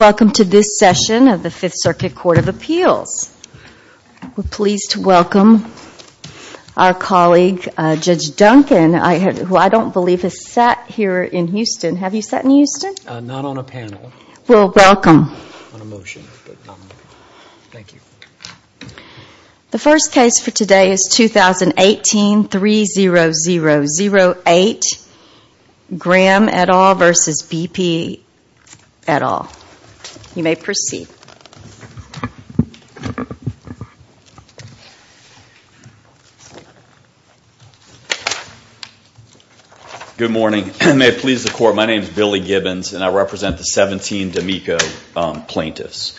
Welcome to this session of the Fifth Circuit Court of Appeals. We're pleased to welcome our colleague, Judge Duncan, who I don't believe has sat here in Houston. Have you sat in Houston? Not on a panel. Well, welcome. On a motion, but not on a panel. Thank you. The first case for today is 2018-30008, Graham et al. v. B.P. et al. You may proceed. Good morning. May it please the Court, my name is Billy Gibbons and I represent the 17 D'Amico plaintiffs.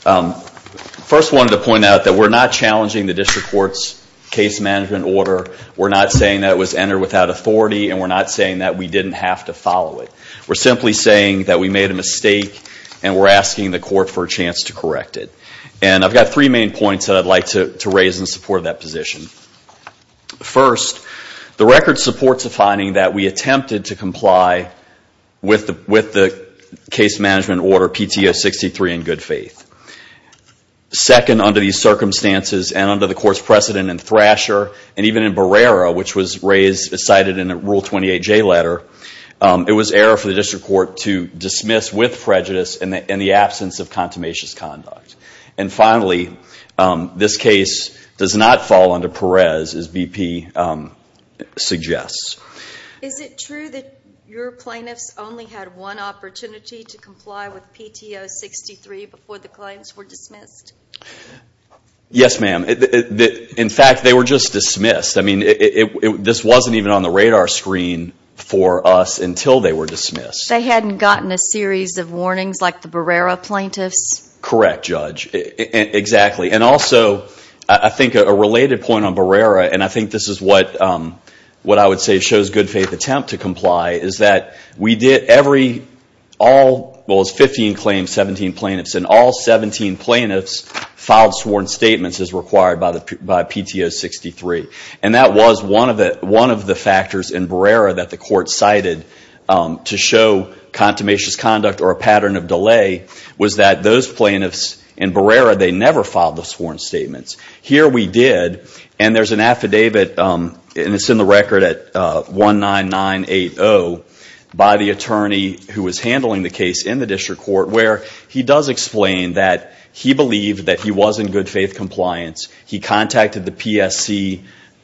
First, I wanted to point out that we're not challenging the District Court's case management order. We're not saying that it was entered without authority and we're not saying that we didn't have to follow it. We're simply saying that we made a mistake and we're asking the Court for a chance to correct it. And I've got three main points that I'd like to raise in support of that position. First, the record supports the finding that we attempted to comply with the case management order PTO 63 in good faith. Second, under these circumstances and under the Court's precedent in Thrasher and even in Barrera, which was cited in a Rule 28J letter, it was error for the District Court to dismiss with prejudice in the absence of contumacious conduct. And finally, this case does not fall under Perez, as B.P. suggests. Is it true that your plaintiffs only had one opportunity to comply with PTO 63 before the claims were dismissed? Yes, ma'am. In fact, they were just dismissed. This wasn't even on the radar screen for us until they were dismissed. They hadn't gotten a series of warnings like the Barrera plaintiffs? Correct, Judge. Exactly. And also, I think a related point on Barrera, and I think this is what I would say shows good faith attempt to comply, is that we did every, well, it was 15 claims, 17 plaintiffs, and all 17 plaintiffs filed sworn statements as required by PTO 63. And that was one of the factors in Barrera that the Court cited to show contumacious conduct or a pattern of delay, was that those plaintiffs in Barrera, they never filed the sworn statements. Here we did, and there's an affidavit, and it's in the record at 19980, by the attorney who was handling the case in the District Court, where he does explain that he believed that he was in good faith compliance. He contacted the PSC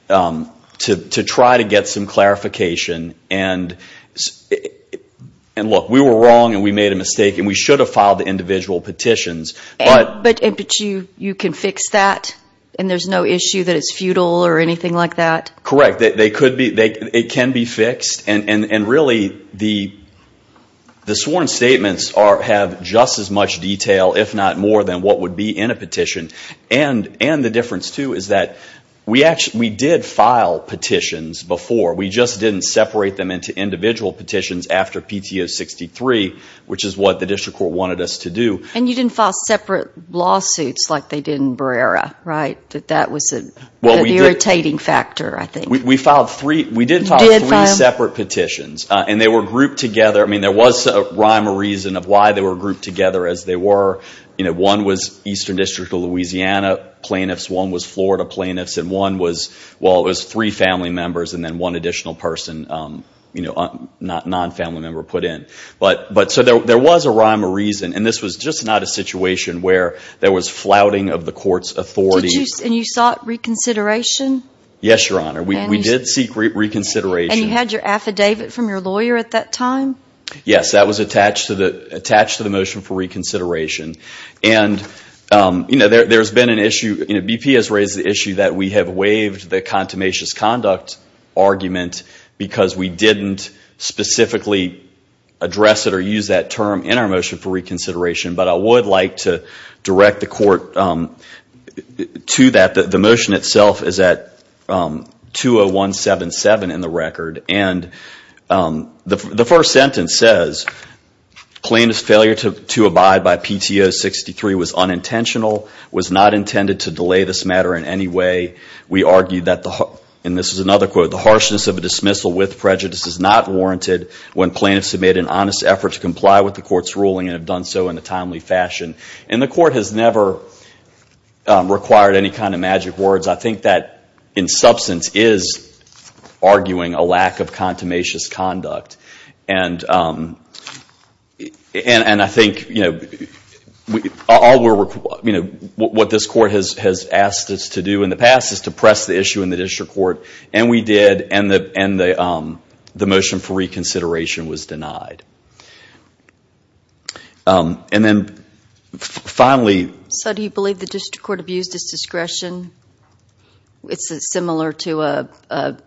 to try to get some clarification. And look, we were wrong, and we made a mistake, and we should have filed the individual petitions. But you can fix that, and there's no issue that it's futile or anything like that? Correct. It can be fixed, and really, the sworn statements have just as much detail, if not more, than what would be in a petition. And the difference, too, is that we did file petitions before. We just didn't separate them into individual petitions after PTO 63, which is what the District Court wanted us to do. And you didn't file separate lawsuits like they did in Barrera, right? That was an irritating factor, I think. We did file three separate petitions, and they were grouped together. There was a rhyme or reason of why they were grouped together as they were. One was Eastern District of Louisiana plaintiffs, one was Florida plaintiffs, and one was three family members, and then one additional person, a non-family member, put in. So there was a rhyme or reason, and this was just not a situation where there was flouting of the court's authority. And you sought reconsideration? Yes, Your Honor. We did seek reconsideration. And you had your affidavit from your lawyer at that time? Yes, that was attached to the motion for reconsideration. And there's been an issue, BP has raised the issue that we have waived the contumacious conduct argument because we didn't specifically address it or use that term in our motion for reconsideration. But I would like to direct the court to that. The motion itself is at 20177 in the record, and the first sentence says, plaintiff's failure to abide by PTO 63 was unintentional, was not intended to delay this matter in any way. We argue that, and this is another quote, the harshness of a dismissal with prejudice is not warranted when plaintiffs have made an honest effort to comply with the court's ruling and have done so in a timely fashion. And the court has never required any kind of magic words. I think that, in substance, is arguing a lack of contumacious conduct. And I think, you know, what this court has asked us to do in the past is to press the issue in the district court, and we did, and the motion for reconsideration was denied. And then, finally. So, do you believe the district court abused its discretion? It's similar to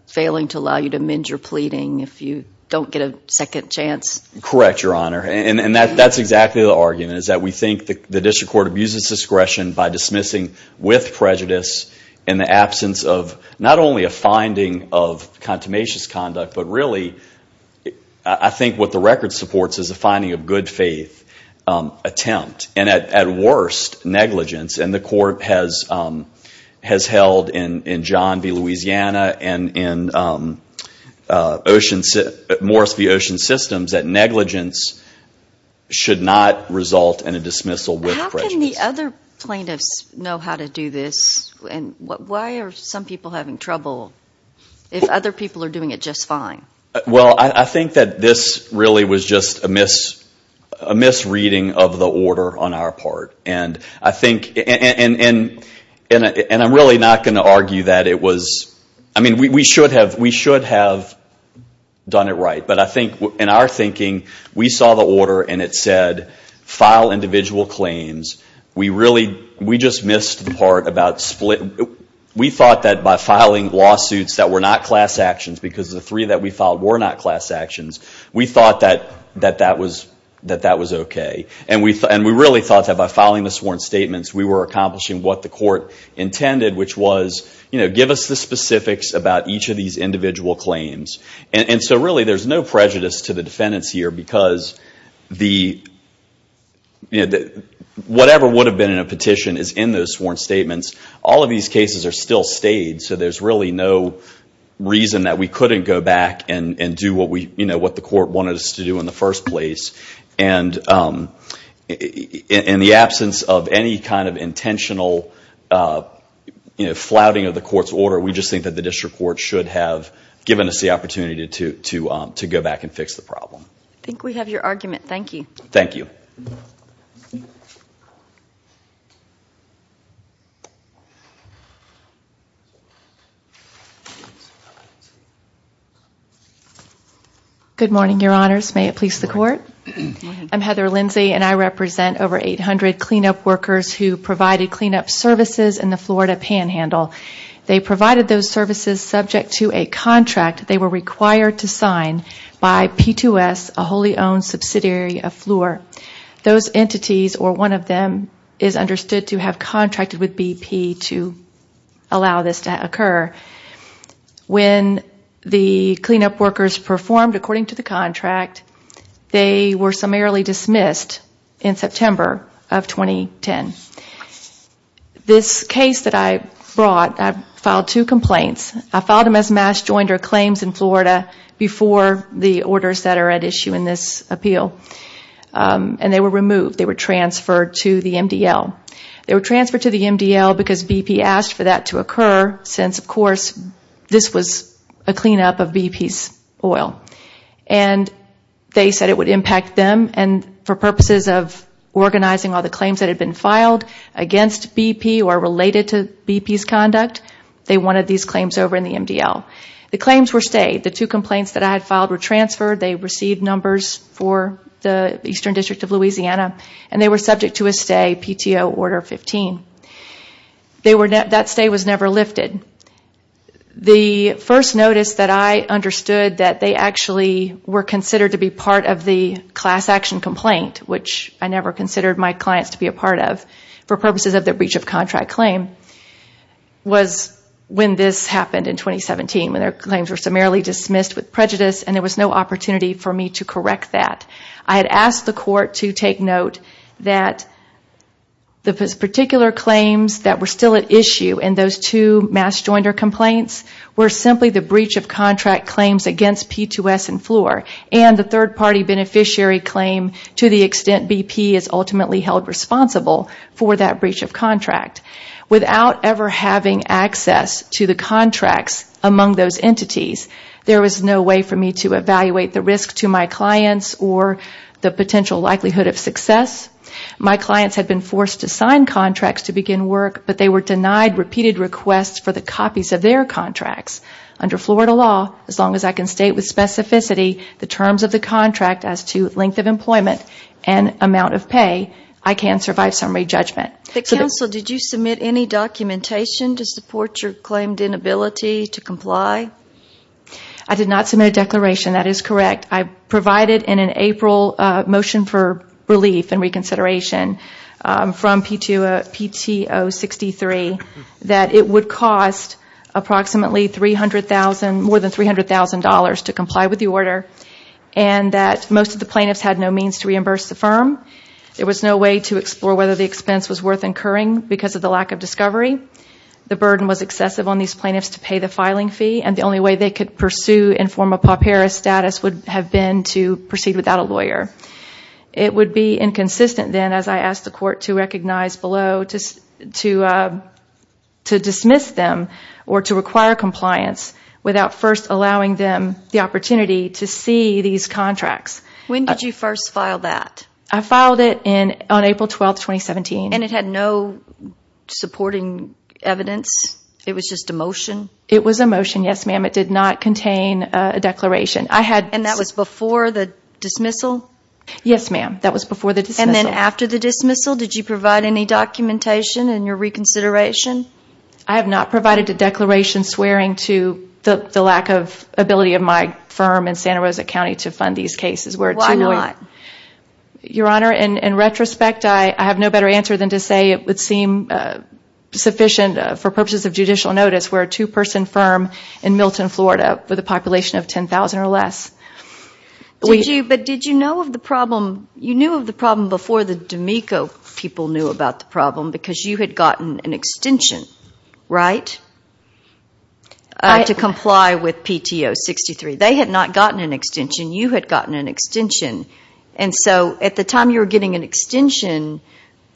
failing to allow you to mend your pleading if you don't get a second chance. Correct, Your Honor. And that's exactly the argument, is that we think the district court abused its discretion by dismissing with prejudice in the absence of not only a finding of contumacious conduct, but really, I think what the record supports is a finding of good faith attempt, and at has held in John v. Louisiana and in Morris v. Ocean Systems that negligence should not result in a dismissal with prejudice. How can the other plaintiffs know how to do this, and why are some people having trouble if other people are doing it just fine? Well, I think that this really was just a misreading of the order on our part. And I think, and I'm really not going to argue that it was, I mean, we should have done it right. But I think, in our thinking, we saw the order and it said, file individual claims. We really, we just missed the part about split, we thought that by filing lawsuits that were not class actions, because the three that we filed were not class actions, we thought that that was okay. And we really thought that by filing the sworn statements, we were accomplishing what the court intended, which was, give us the specifics about each of these individual claims. And so really, there's no prejudice to the defendants here, because whatever would have been in a petition is in those sworn statements. All of these cases are still stayed, so there's really no reason that we couldn't go back and do what the court wanted us to do in the first place. And in the absence of any kind of intentional flouting of the court's order, we just think that the district court should have given us the opportunity to go back and fix the problem. I think we have your argument. Thank you. Thank you. Good morning, your honors. May it please the court? Go ahead. I'm Heather Lindsay, and I represent over 800 cleanup workers who provided cleanup services in the Florida Panhandle. They provided those services subject to a contract they were required to sign by P2S, a wholly owned subsidiary of FLUR. Those entities, or one of them, is understood to have contracted with BP to allow this to occur. When the cleanup workers performed according to the contract, they were summarily dismissed in September of 2010. This case that I brought, I filed two complaints. I filed them as mass joinder claims in Florida before the orders that are at issue in this appeal. And they were removed. They were transferred to the MDL. They were transferred to the MDL because BP asked for that to occur since, of course, this was a cleanup of BP's oil. They said it would impact them. For purposes of organizing all the claims that had been filed against BP or related to BP's conduct, they wanted these claims over in the MDL. The claims were stayed. The two complaints that I had filed were transferred. They received numbers for the Eastern District of Louisiana. They were subject to a stay, PTO Order 15. That stay was never lifted. The first notice that I understood that they actually were considered to be part of the class action complaint, which I never considered my clients to be a part of, for purposes of the breach of contract claim, was when this happened in 2017, when their claims were summarily dismissed with prejudice and there was no opportunity for me to correct that. I had asked the court to take note that the particular claims that were still at issue in those two mass joinder complaints were simply the breach of contract claims against P2S and Fluor and the third party beneficiary claim to the extent BP is ultimately held responsible for that breach of contract. Without ever having access to the contracts among those entities, there was no way for the potential likelihood of success. My clients had been forced to sign contracts to begin work, but they were denied repeated requests for the copies of their contracts. Under Florida law, as long as I can state with specificity the terms of the contract as to length of employment and amount of pay, I can survive summary judgment. The counsel, did you submit any documentation to support your claimed inability to comply? I did not submit a declaration. That is correct. I provided in an April motion for relief and reconsideration from PTO 63 that it would cost approximately more than $300,000 to comply with the order and that most of the plaintiffs had no means to reimburse the firm. There was no way to explore whether the expense was worth incurring because of the lack of discovery. The burden was excessive on these plaintiffs to pay the filing fee and the only way they could pursue and form a PAPERA status would have been to proceed without a lawyer. It would be inconsistent then, as I asked the court to recognize below, to dismiss them or to require compliance without first allowing them the opportunity to see these contracts. When did you first file that? I filed it on April 12, 2017. It had no supporting evidence? It was just a motion? It was a motion, yes ma'am. It did not contain a declaration. And that was before the dismissal? Yes, ma'am. That was before the dismissal. And then after the dismissal, did you provide any documentation in your reconsideration? I have not provided a declaration swearing to the lack of ability of my firm in Santa Rosa County to fund these cases. Why not? Your Honor, in retrospect, I have no better answer than to say it would seem sufficient for purposes of judicial notice for a two-person firm in Milton, Florida with a population of 10,000 or less. Did you know of the problem? You knew of the problem before the D'Amico people knew about the problem because you had gotten an extension to comply with PTO 63. They had not gotten an extension. You had gotten an extension. And so at the time you were getting an extension,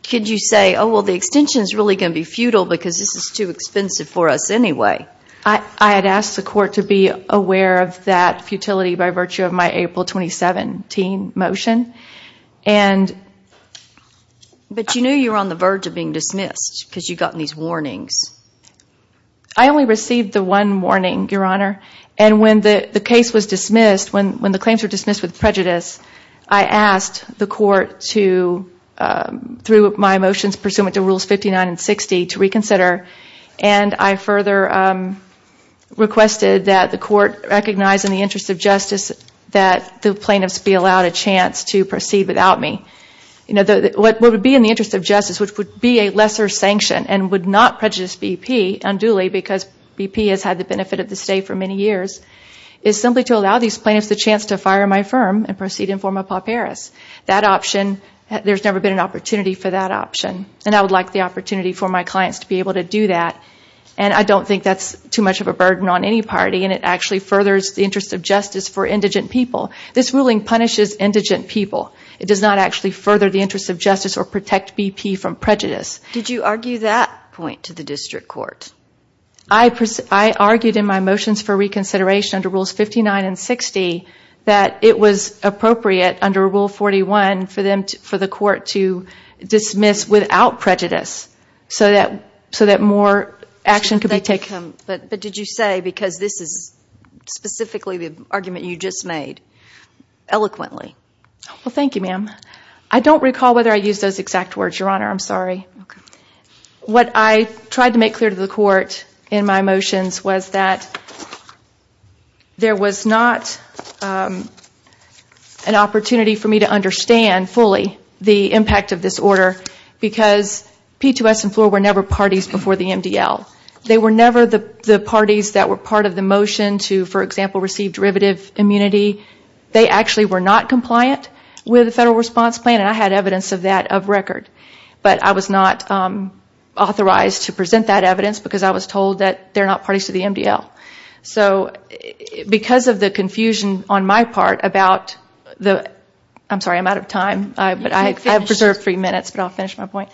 could you say, oh, well, the extension is really going to be futile because this is too expensive for us anyway? I had asked the court to be aware of that futility by virtue of my April 2017 motion. But you knew you were on the verge of being dismissed because you had gotten these warnings. I only received the one warning, Your Honor, and when the case was dismissed, when the claims were dismissed with prejudice, I asked the court to, through my motions pursuant to Rules 59 and 60, to reconsider. And I further requested that the court recognize in the interest of justice that the plaintiffs be allowed a chance to proceed without me. What would be in the interest of justice, which would be a lesser sanction and would not prejudice BP unduly because BP has had the benefit of the state for many years, is simply to allow these plaintiffs the chance to fire my firm and proceed in forma pauperis. That option, there has never been an opportunity for that option. And I would like the opportunity for my clients to be able to do that. And I don't think that's too much of a burden on any party and it actually furthers the interest of justice for indigent people. This ruling punishes indigent people. It does not actually further the interest of justice or protect BP from prejudice. Did you argue that point to the district court? I argued in my motions for reconsideration under Rules 59 and 60 that it was appropriate under Rule 41 for the court to dismiss without prejudice so that more action could be taken. But did you say, because this is specifically the argument you just made, eloquently? Well, thank you, ma'am. I don't recall whether I used those exact words, Your Honor, I'm sorry. What I tried to make clear to the court in my motions was that there was not an opportunity for me to understand fully the impact of this order because P2S and FLOR were never parties before the MDL. They were never the parties that were part of the motion to, for example, receive derivative immunity. They actually were not compliant with the federal response plan and I had evidence of that of record. But I was not authorized to present that evidence because I was told that they're not parties to the MDL. So because of the confusion on my part about the, I'm sorry, I'm out of time, but I have preserved three minutes, but I'll finish my point.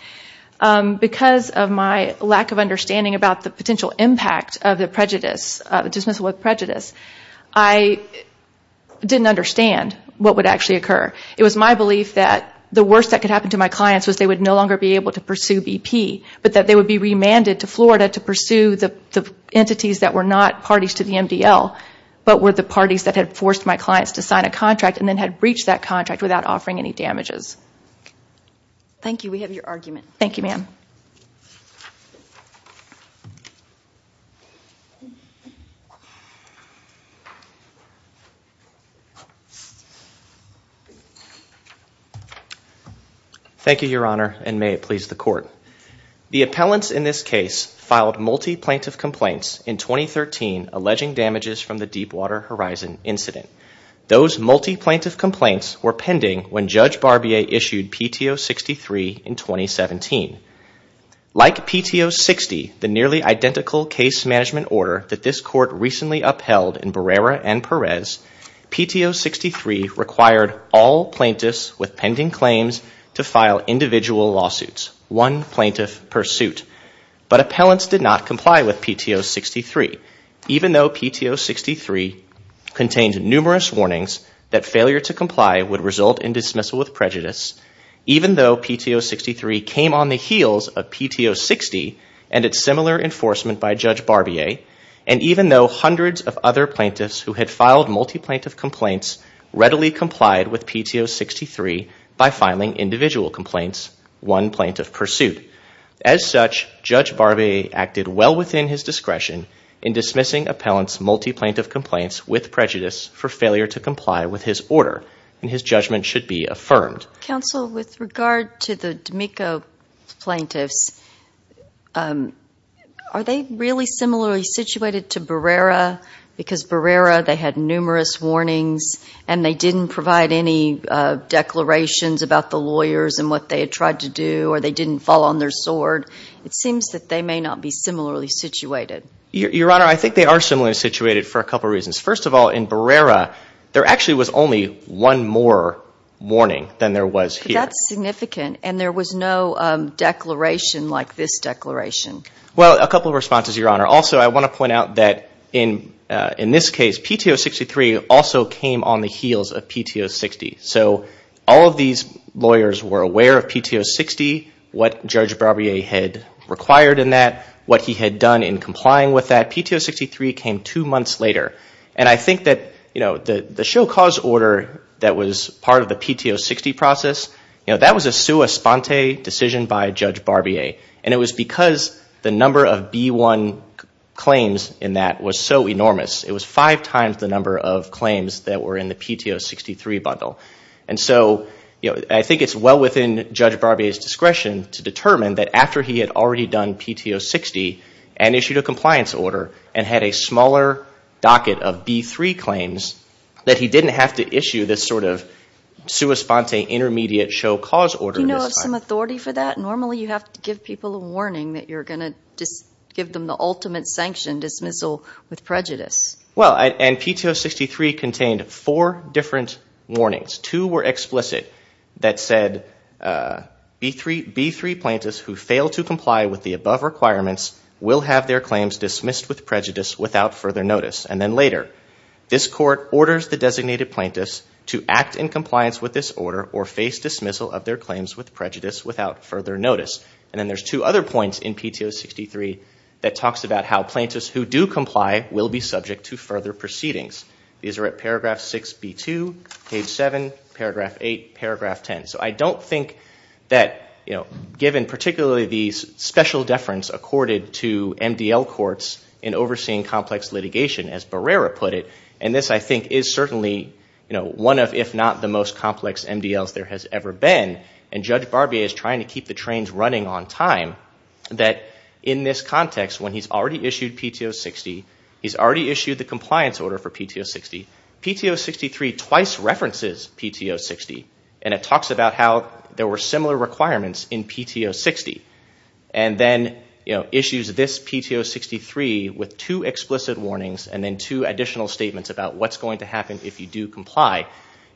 Because of my lack of understanding about the potential impact of the prejudice, dismissal with prejudice, I didn't understand what would actually occur. It was my belief that the worst that could happen to my clients was they would no longer be able to pursue BP, but that they would be remanded to Florida to pursue the entities that were not parties to the MDL, but were the parties that had forced my clients to sign a contract and then had breached that contract without offering any damages. Thank you. We have your argument. Thank you, ma'am. Thank you, Your Honor, and may it please the court. The appellants in this case filed multi-plaintiff complaints in 2013 alleging damages from the Deepwater Horizon incident. Those multi-plaintiff complaints were pending when Judge Barbier issued PTO 63 in 2017. Like PTO 60, the nearly identical case management order that this court recently upheld in Barrera and Perez, PTO 63 required all plaintiffs with pending claims to file individual lawsuits, one plaintiff per suit. But appellants did not comply with PTO 63, even though PTO 63 contained numerous warnings that failure to comply would result in dismissal with prejudice, even though PTO 63 came on the heels of PTO 60 and its similar enforcement by Judge Barbier, and even though hundreds of other plaintiffs who had filed multi-plaintiff complaints readily complied with PTO 63 by multi-plaintiff pursuit. As such, Judge Barbier acted well within his discretion in dismissing appellants' multi-plaintiff complaints with prejudice for failure to comply with his order, and his judgment should be affirmed. Counsel, with regard to the D'Amico plaintiffs, are they really similarly situated to Barrera? Because Barrera, they had numerous warnings, and they didn't provide any declarations about the lawyers and what they had tried to do, or they didn't fall on their sword. It seems that they may not be similarly situated. Your Honor, I think they are similarly situated for a couple of reasons. First of all, in Barrera, there actually was only one more warning than there was here. That's significant, and there was no declaration like this declaration. Well, a couple of responses, Your Honor. Also, I want to point out that in this case, PTO 63 also came on the heels of PTO 60. All of these lawyers were aware of PTO 60, what Judge Barbier had required in that, what he had done in complying with that. PTO 63 came two months later. I think that the show cause order that was part of the PTO 60 process, that was a sua sponte decision by Judge Barbier, and it was because the number of B1 claims in that was so enormous. It was five times the number of claims that were in the PTO 63 bundle. I think it's well within Judge Barbier's discretion to determine that after he had already done PTO 60 and issued a compliance order, and had a smaller docket of B3 claims, that he didn't have to issue this sua sponte intermediate show cause order. Do you know of some authority for that? Normally, you have to give people a warning that you're going to give them the ultimate sanctioned dismissal with prejudice. Well, and PTO 63 contained four different warnings. Two were explicit that said, B3 plaintiffs who fail to comply with the above requirements will have their claims dismissed with prejudice without further notice. And then later, this court orders the designated plaintiffs to act in compliance with this order or face dismissal of their claims with prejudice without further notice. And then there's two other points in PTO 63 that talks about how plaintiffs who do comply will be subject to further proceedings. These are at paragraph 6B2, page 7, paragraph 8, paragraph 10. So I don't think that given particularly these special deference accorded to MDL courts in overseeing complex litigation, as Barrera put it, and this I think is certainly one of if not the most complex MDLs there has ever been, and Judge Barbier is trying to get his trains running on time, that in this context when he's already issued PTO 60, he's already issued the compliance order for PTO 60, PTO 63 twice references PTO 60 and it talks about how there were similar requirements in PTO 60. And then issues this PTO 63 with two explicit warnings and then two additional statements about what's going to happen if you do comply.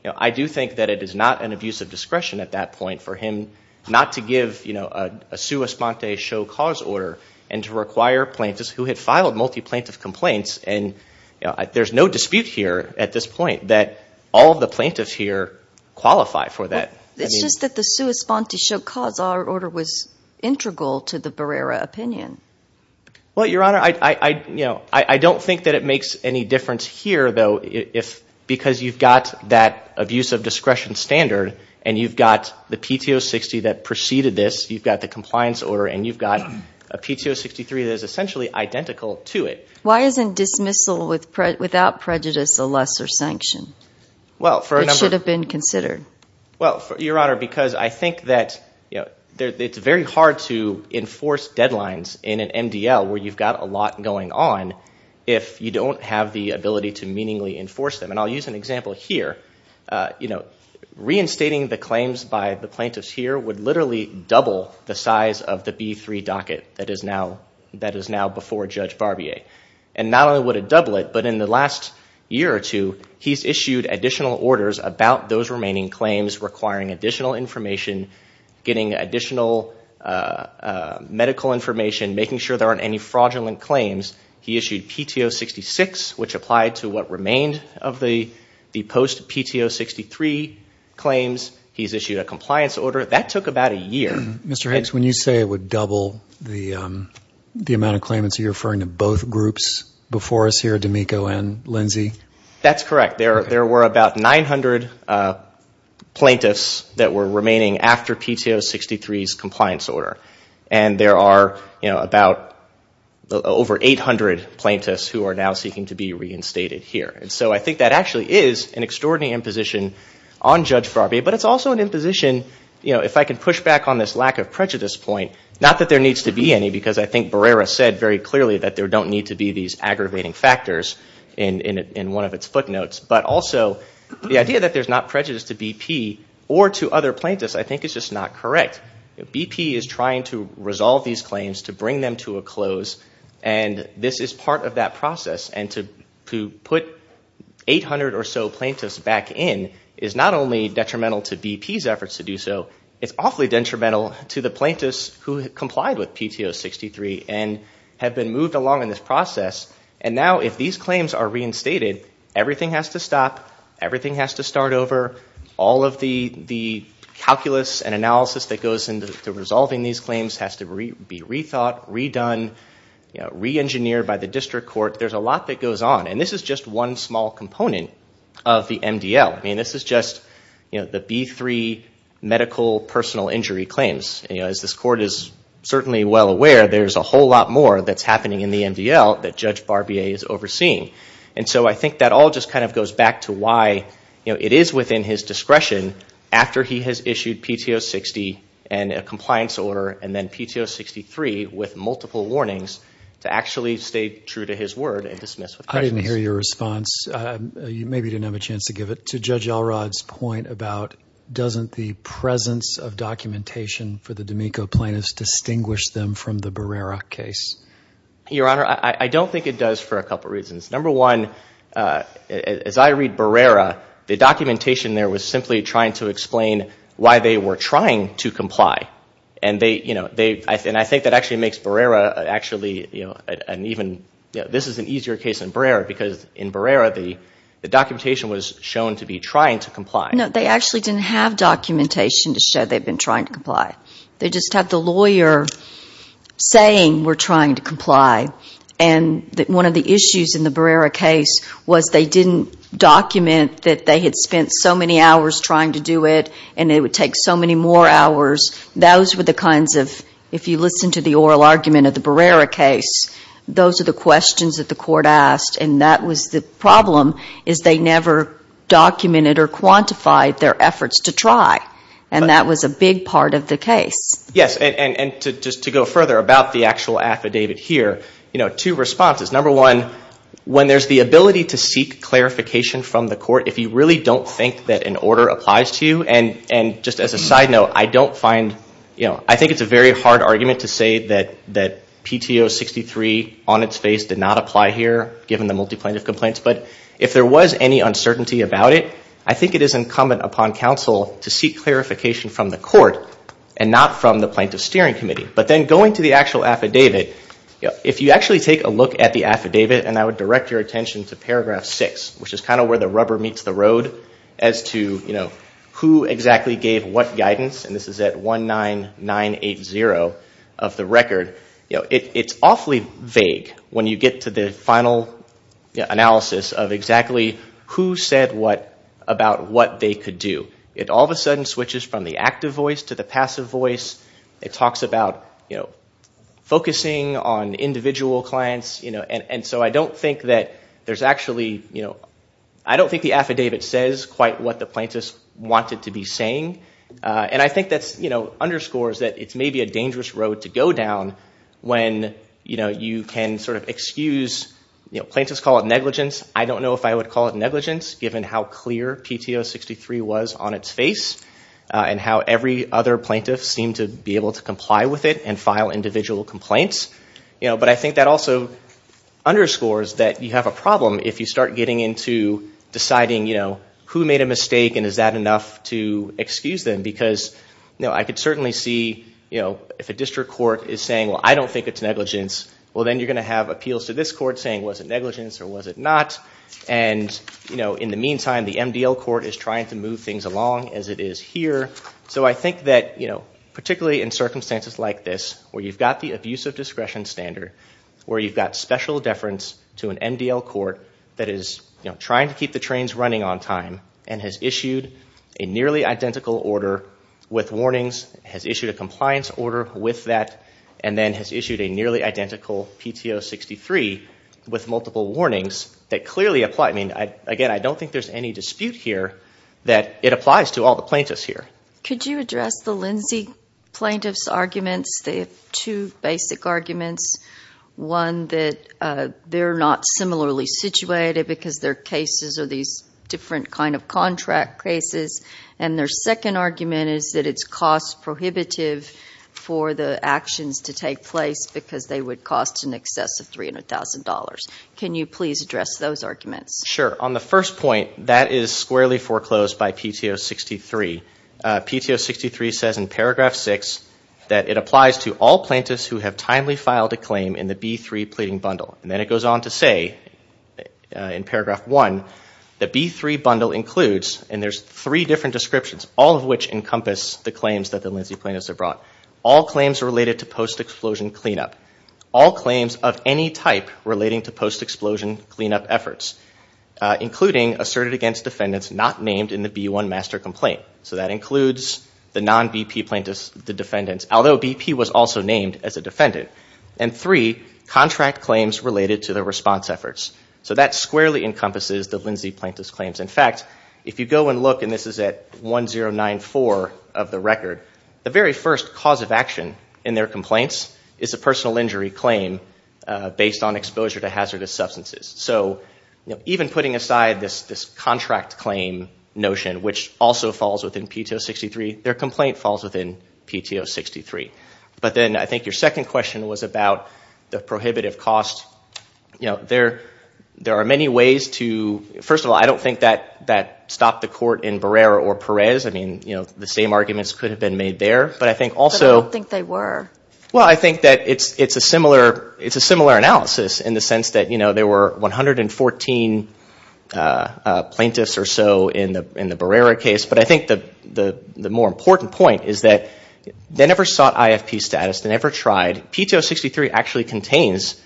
I do think that it is not an abuse of discretion at that point for him not to give a sua sponte show cause order and to require plaintiffs who had filed multi-plaintiff complaints and there's no dispute here at this point that all of the plaintiffs here qualify for that. It's just that the sua sponte show cause order was integral to the Barrera opinion. Well, Your Honor, I don't think that it makes any difference here, though, because you've got that abuse of discretion standard and you've got the PTO 60 that preceded this, you've got the compliance order, and you've got a PTO 63 that is essentially identical to it. Why isn't dismissal without prejudice a lesser sanction? It should have been considered. Well, Your Honor, because I think that it's very hard to enforce deadlines in an MDL where you've got a lot going on if you don't have the ability to meaningfully enforce them. And I'll use an example here. Reinstating the claims by the plaintiffs here would literally double the size of the B3 docket that is now before Judge Barbier. And not only would it double it, but in the last year or two, he's issued additional orders about those remaining claims requiring additional information, getting additional medical information, making sure there aren't any fraudulent claims. He issued PTO 66, which applied to what remained of the post-PTO 63 claims. He's issued a compliance order. That took about a year. Mr. Hicks, when you say it would double the amount of claimants, are you referring to both groups before us here, D'Amico and Lindsey? That's correct. There were about 900 plaintiffs that were remaining after PTO 63's compliance order. And there are about over 800 plaintiffs who are now seeking to be reinstated here. So I think that actually is an extraordinary imposition on Judge Barbier, but it's also an imposition, if I can push back on this lack of prejudice point, not that there needs to be any, because I think Barrera said very clearly that there don't need to be these But also, the idea that there's not prejudice to BP or to other plaintiffs, I think is just not correct. BP is trying to resolve these claims, to bring them to a close, and this is part of that process. And to put 800 or so plaintiffs back in is not only detrimental to BP's efforts to do so, it's awfully detrimental to the plaintiffs who complied with PTO 63 and have been moved along in this process. And now, if these claims are reinstated, everything has to stop, everything has to start over, all of the calculus and analysis that goes into resolving these claims has to be rethought, redone, reengineered by the district court. There's a lot that goes on. And this is just one small component of the MDL. This is just the B3 medical personal injury claims. As this court is certainly well aware, there's a whole lot more that's happening in the MDL that Judge Barbier is overseeing. And so, I think that all just kind of goes back to why it is within his discretion, after he has issued PTO 60 and a compliance order, and then PTO 63 with multiple warnings, to actually stay true to his word and dismiss with prejudice. I didn't hear your response. Maybe you didn't have a chance to give it. To Judge Elrod's point about, doesn't the presence of documentation for the D'Amico plaintiffs distinguish them from the Barrera case? Your Honor, I don't think it does for a couple reasons. Number one, as I read Barrera, the documentation there was simply trying to explain why they were trying to comply. And I think that actually makes Barrera actually an even, this is an easier case than Barrera because in Barrera, the documentation was shown to be trying to comply. No, they actually didn't have documentation to show they've been trying to comply. They just had the lawyer saying, we're trying to comply. And one of the issues in the Barrera case was they didn't document that they had spent so many hours trying to do it, and it would take so many more hours. Those were the kinds of, if you listen to the oral argument of the Barrera case, those are the questions that the court asked, and that was the problem, is they never documented or quantified their efforts to try. And that was a big part of the case. Yes, and just to go further about the actual affidavit here, two responses. Number one, when there's the ability to seek clarification from the court, if you really don't think that an order applies to you, and just as a side note, I don't find, I think it's a very hard argument to say that PTO 63 on its face did not apply here, given the multi-plaintiff complaints, but if there was any uncertainty about it, I think it is incumbent upon counsel to seek clarification from the court and not from the plaintiff's steering committee. But then going to the actual affidavit, if you actually take a look at the affidavit, and I would direct your attention to paragraph six, which is kind of where the rubber meets the road as to who exactly gave what guidance, and this is at 19980 of the record, it's awfully vague when you get to the final analysis of exactly who said what about what they could do. It all of a sudden switches from the active voice to the passive voice. It talks about focusing on individual clients, and so I don't think that there's actually, I don't think the affidavit says quite what the plaintiffs wanted to be saying, and I think that underscores that it's maybe a dangerous road to go down when you can excuse, plaintiffs call it negligence, I don't know if I would call it negligence, given how clear PTO 63 was on its face, and how every other plaintiff seemed to be able to comply with it and file individual complaints. But I think that also underscores that you have a problem if you start getting into deciding who made a mistake and is that enough to excuse them, because I could certainly see if a district court is saying, well I don't think it's negligence, well then you're going to have appeals to this court saying was it negligence or was it not, and in the meantime the MDL court is trying to move things along as it is here. So I think that particularly in circumstances like this, where you've got the abuse of discretion standard, where you've got special deference to an MDL court that is trying to keep the trains running on time and has issued a nearly identical order with warnings, has issued a compliance order with that, and then has issued a nearly identical PTO 63 with multiple warnings that clearly apply. Again, I don't think there's any dispute here that it applies to all the plaintiffs here. Could you address the Lindsay plaintiff's arguments, the two basic arguments, one that they're not similarly situated because their cases are these different kind of contract cases, and their second argument is that it's cost prohibitive for the actions to take place because they would cost in excess of $300,000. Can you please address those arguments? Sure. On the first point, that is squarely foreclosed by PTO 63. PTO 63 says in paragraph 6 that it applies to all plaintiffs who have timely filed a claim in the B3 pleading bundle. Then it goes on to say in paragraph 1, the B3 bundle includes, and there's three different descriptions, all of which encompass the claims that the Lindsay plaintiffs have brought. All claims related to post-explosion cleanup. All claims of any type relating to post-explosion cleanup efforts, including asserted against defendants not named in the B1 master complaint. So that includes the non-BP plaintiffs, the defendants, although BP was also named as a defendant. And three, contract claims related to the response efforts. So that squarely encompasses the Lindsay plaintiffs' claims. In fact, if you go and look, and this is at 1094 of the record, the very first cause of action in their complaints is a personal injury claim based on exposure to hazardous substances. So even putting aside this contract claim notion, which also falls within PTO 63, their complaint falls within PTO 63. But then I think the second question was about the prohibitive cost. There are many ways to, first of all, I don't think that stopped the court in Barrera or Perez. I mean, the same arguments could have been made there. But I think also... But I don't think they were. Well, I think that it's a similar analysis in the sense that there were 114 plaintiffs or so in the Barrera case. But I think the more important point is that they never sought to... PTO 63 actually contains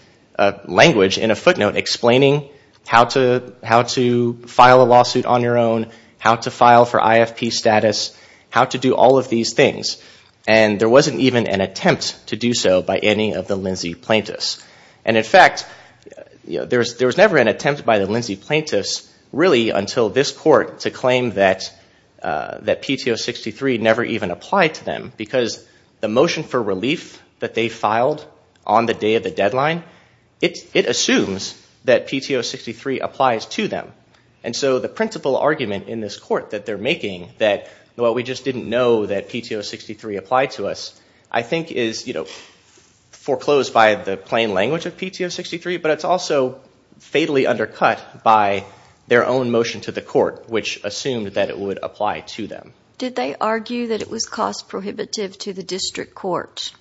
language in a footnote explaining how to file a lawsuit on your own, how to file for IFP status, how to do all of these things. And there wasn't even an attempt to do so by any of the Lindsay plaintiffs. And in fact, there was never an attempt by the Lindsay plaintiffs, really, until this court to claim that PTO 63 never even applied to them. Because the motion for relief that they filed on the day of the deadline, it assumes that PTO 63 applies to them. And so the principal argument in this court that they're making that, well, we just didn't know that PTO 63 applied to us, I think is foreclosed by the plain language of PTO 63, but it's also fatally undercut by their own motion to the court, which assumed that it would apply to them. Did they argue that it was cost prohibitive to the district court,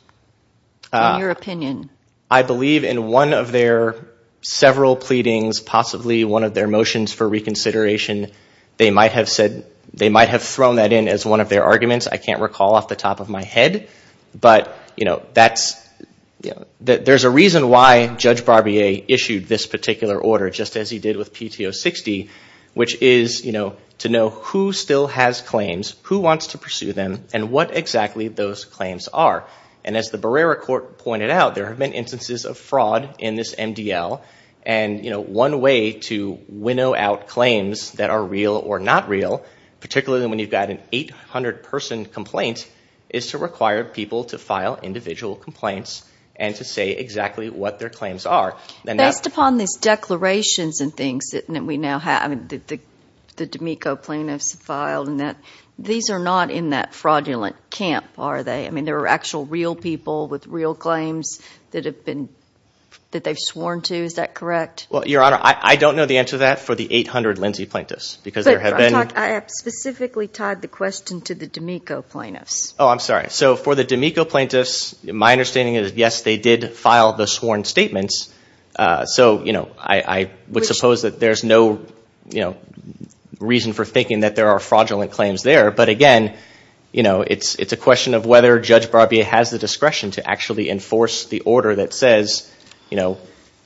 in your opinion? I believe in one of their several pleadings, possibly one of their motions for reconsideration, they might have said, they might have thrown that in as one of their arguments. I can't recall off the top of my head. But there's a reason why Judge Barbier issued this particular order, just as he did with PTO 60, which is to know who still has claims, who wants to pursue them, and what exactly those claims are. And as the Barrera Court pointed out, there have been instances of fraud in this MDL. And one way to winnow out claims that are real or not real, particularly when you've got an 800-person complaint, is to require people to file individual complaints and to say exactly what their claims are. Based upon these declarations and things that we now have, the D'Amico plaintiffs filed, these are not in that fraudulent camp, are they? I mean, there are actual real people with real claims that they've sworn to, is that correct? Well, Your Honor, I don't know the answer to that for the 800 Lindsay plaintiffs. I have specifically tied the question to the D'Amico plaintiffs. Oh, I'm sorry. So for the D'Amico plaintiffs, my understanding is, yes, they did file the So, you know, I would suppose that there's no reason for thinking that there are fraudulent claims there. But again, you know, it's a question of whether Judge Barbier has the discretion to actually enforce the order that says, you know,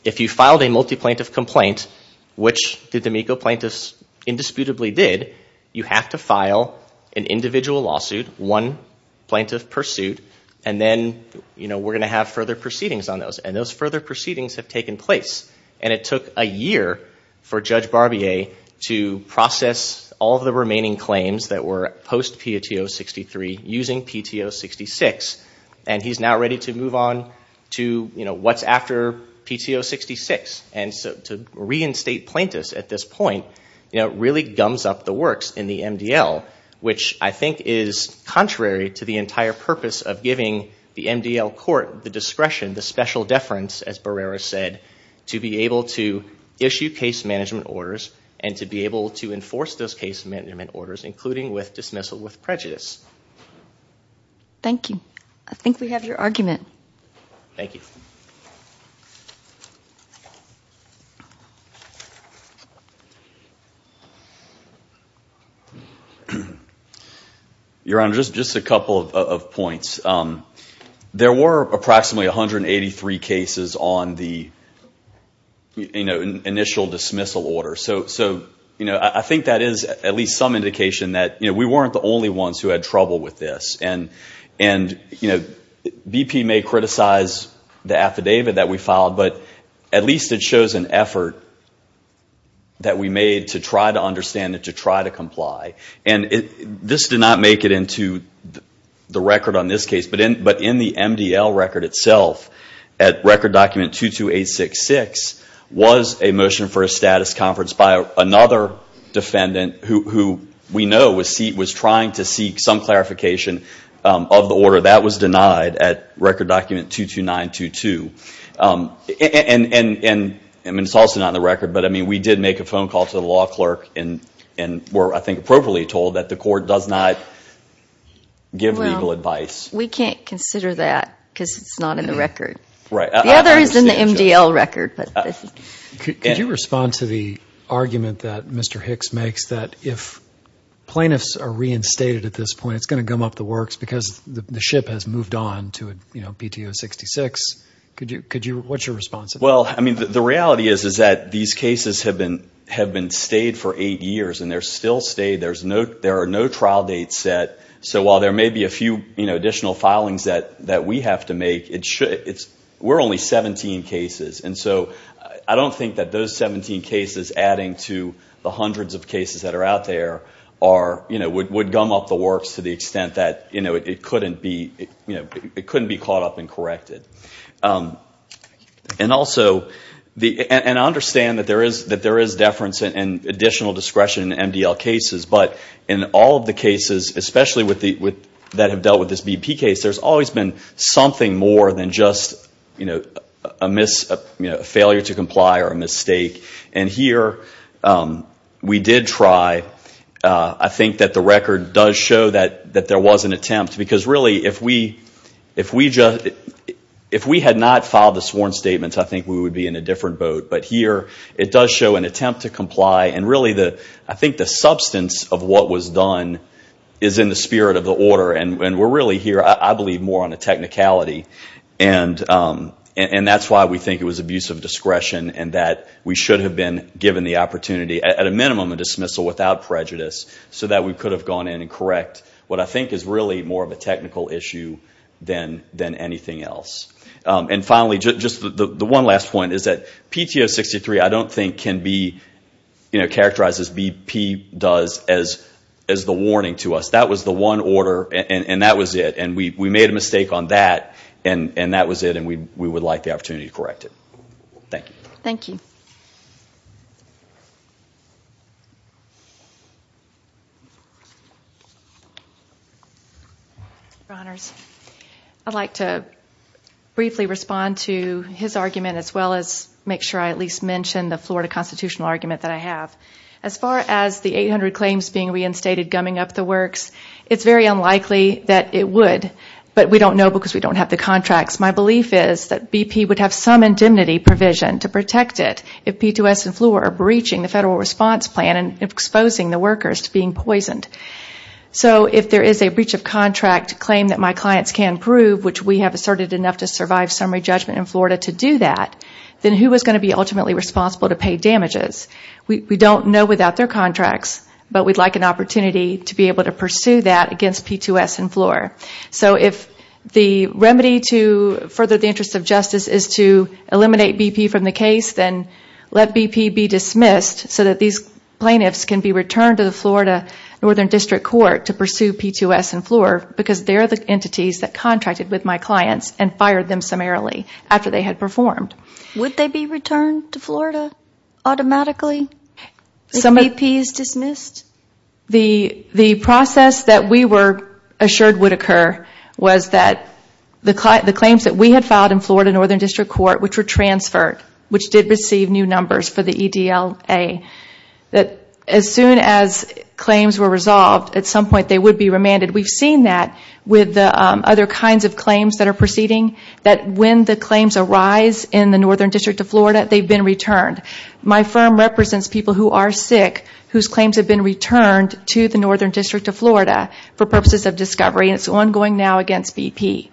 if you filed a multi-plaintiff complaint, which the D'Amico plaintiffs indisputably did, you have to file an individual lawsuit, one plaintiff per suit, and then, you know, we're going to have further proceedings on those. And those further proceedings have taken place. And it took a year for Judge Barbier to process all of the remaining claims that were post-PTO 63 using PTO 66. And he's now ready to move on to, you know, what's after PTO 66. And so to reinstate plaintiffs at this point, you know, really gums up the works in the MDL, which I think is contrary to the entire purpose of giving the MDL court the discretion, the special deference, as Barrera said, to be able to issue case management orders and to be able to enforce those case management orders, including with dismissal with prejudice. Thank you. I think we have your argument. Thank you. Your Honor, just a couple of points. There were approximately 183 cases on the, you know, initial dismissal order. So, you know, I think that is at least some indication that, you know, BP may criticize the affidavit that we filed, but at least it shows an effort that we made to try to understand it, to try to comply. And this did not make it into the record on this case, but in the MDL record itself, at Record Document 22866, was a motion for a status conference by another defendant who we know was trying to seek some clarification of the order. That was denied at Record Document 22922. And I mean, it's also not in the record, but I mean, we did make a phone call to the law clerk and were, I think, appropriately told that the court does not give legal advice. We can't consider that because it's not in the record. The other is in the MDL record. Could you respond to the argument that Mr. Hicks makes that if plaintiffs are reinstated at this point, it's going to gum up the works because the ship has moved on to, you know, BTO66? What's your response? Well, I mean, the reality is that these cases have been stayed for eight years and they're still stayed. There are no trial dates set. So while there may be a few additional filings that we have to make, we're only 17 cases. And so I don't think that those 17 cases adding to the hundreds of cases that are out there are, you know, would gum up the works to the extent that, you know, it couldn't be, you know, it couldn't be caught up and corrected. And also, and I understand that there is deference and additional discretion in MDL cases, but in all of the cases, especially that have dealt with this BP case, there's always been something more than just, you know, a failure to comply or a mistake. And here we did try. I think that the record does show that there was an attempt because really, if we had not filed the sworn statements, I think we would be in a different boat. But here it does show an attempt to comply. And really, I think the substance of what was done is in the spirit of the order. And we're really here, I believe, more on a technicality. And that's why we think it was abuse of discretion and that we should have been given the opportunity, at a minimum, a dismissal without prejudice so that we could have gone in and correct what I think is really more of a technical issue than anything else. And finally, just the one last point is that PTO 63, I don't think can be, you know, characterized as BP does, as the warning to us. That was the one order and that was it. And we made a mistake on that and that was it. And we would like the opportunity to correct it. Thank you. Thank you. I'd like to briefly respond to his argument as well as make sure I at least mention the As far as the 800 claims being reinstated gumming up the works, it's very unlikely that it would. But we don't know because we don't have the contracts. My belief is that BP would have some indemnity provision to protect it if PTOS and FLUOR are breaching the federal response plan and exposing the workers to being poisoned. So if there is a breach of contract claim that my clients can prove, which we have asserted enough to survive summary judgment in Florida to do that, then who is going to be ultimately responsible to pay damages? We don't know without their contracts, but we'd like an opportunity to be able to pursue that against PTOS and FLUOR. So if the remedy to further the interest of justice is to eliminate BP from the case, then let BP be dismissed so that these plaintiffs can be returned to the Florida Northern District Court to pursue PTOS and FLUOR because they're the entities that contracted with my clients and fired them summarily after they had performed. Would they be returned to Florida automatically if BP is dismissed? The process that we were assured would occur was that the claims that we had filed in Florida Northern District Court, which were transferred, which did receive new numbers for the EDLA, as soon as claims were resolved, at some point they would be remanded. We've seen that with the other kinds of claims that are proceeding, that when the claims arise in the Northern District of Florida, they've been returned. My firm represents people who are sick whose claims have been returned to the Northern District of Florida for purposes of discovery, and it's ongoing now against BP.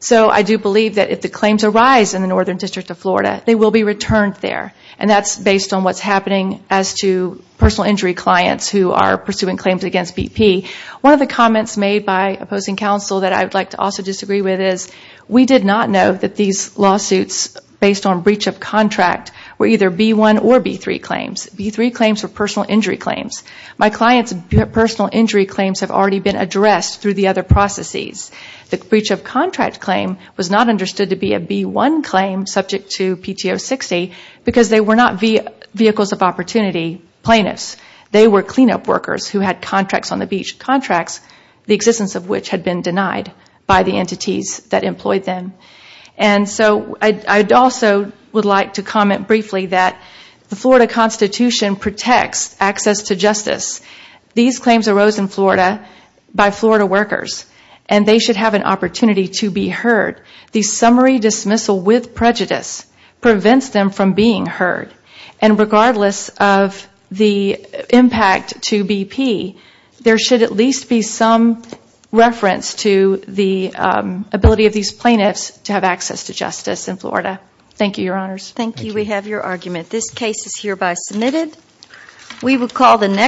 So I do believe that if the claims arise in the Northern District of Florida, they will be returned there, and that's based on what's happening as to personal injury clients who are pursuing claims against BP. One of the comments made by opposing counsel that I would like to also disagree with is we did not know that these lawsuits based on breach of contract were either B1 or B3 claims. B3 claims were personal injury claims. My client's personal injury claims have already been addressed through the other processes. The breach of contract claim was not understood to be a B1 claim subject to PTO 60 because they were not vehicles of opportunity plaintiffs. They were cleanup workers who had contracts on the beach, contracts the existence of which had been denied by the entities that employed them. And so I also would like to comment briefly that the Florida Constitution protects access to justice. These claims arose in Florida by Florida workers, and they should have an opportunity to be heard. The summary dismissal with prejudice prevents them from being heard. And regardless of the impact to BP, there should at least be some reference to the ability of these plaintiffs to have access to justice in Florida. Thank you, Your Honors. Thank you. We have your argument. This case is hereby submitted.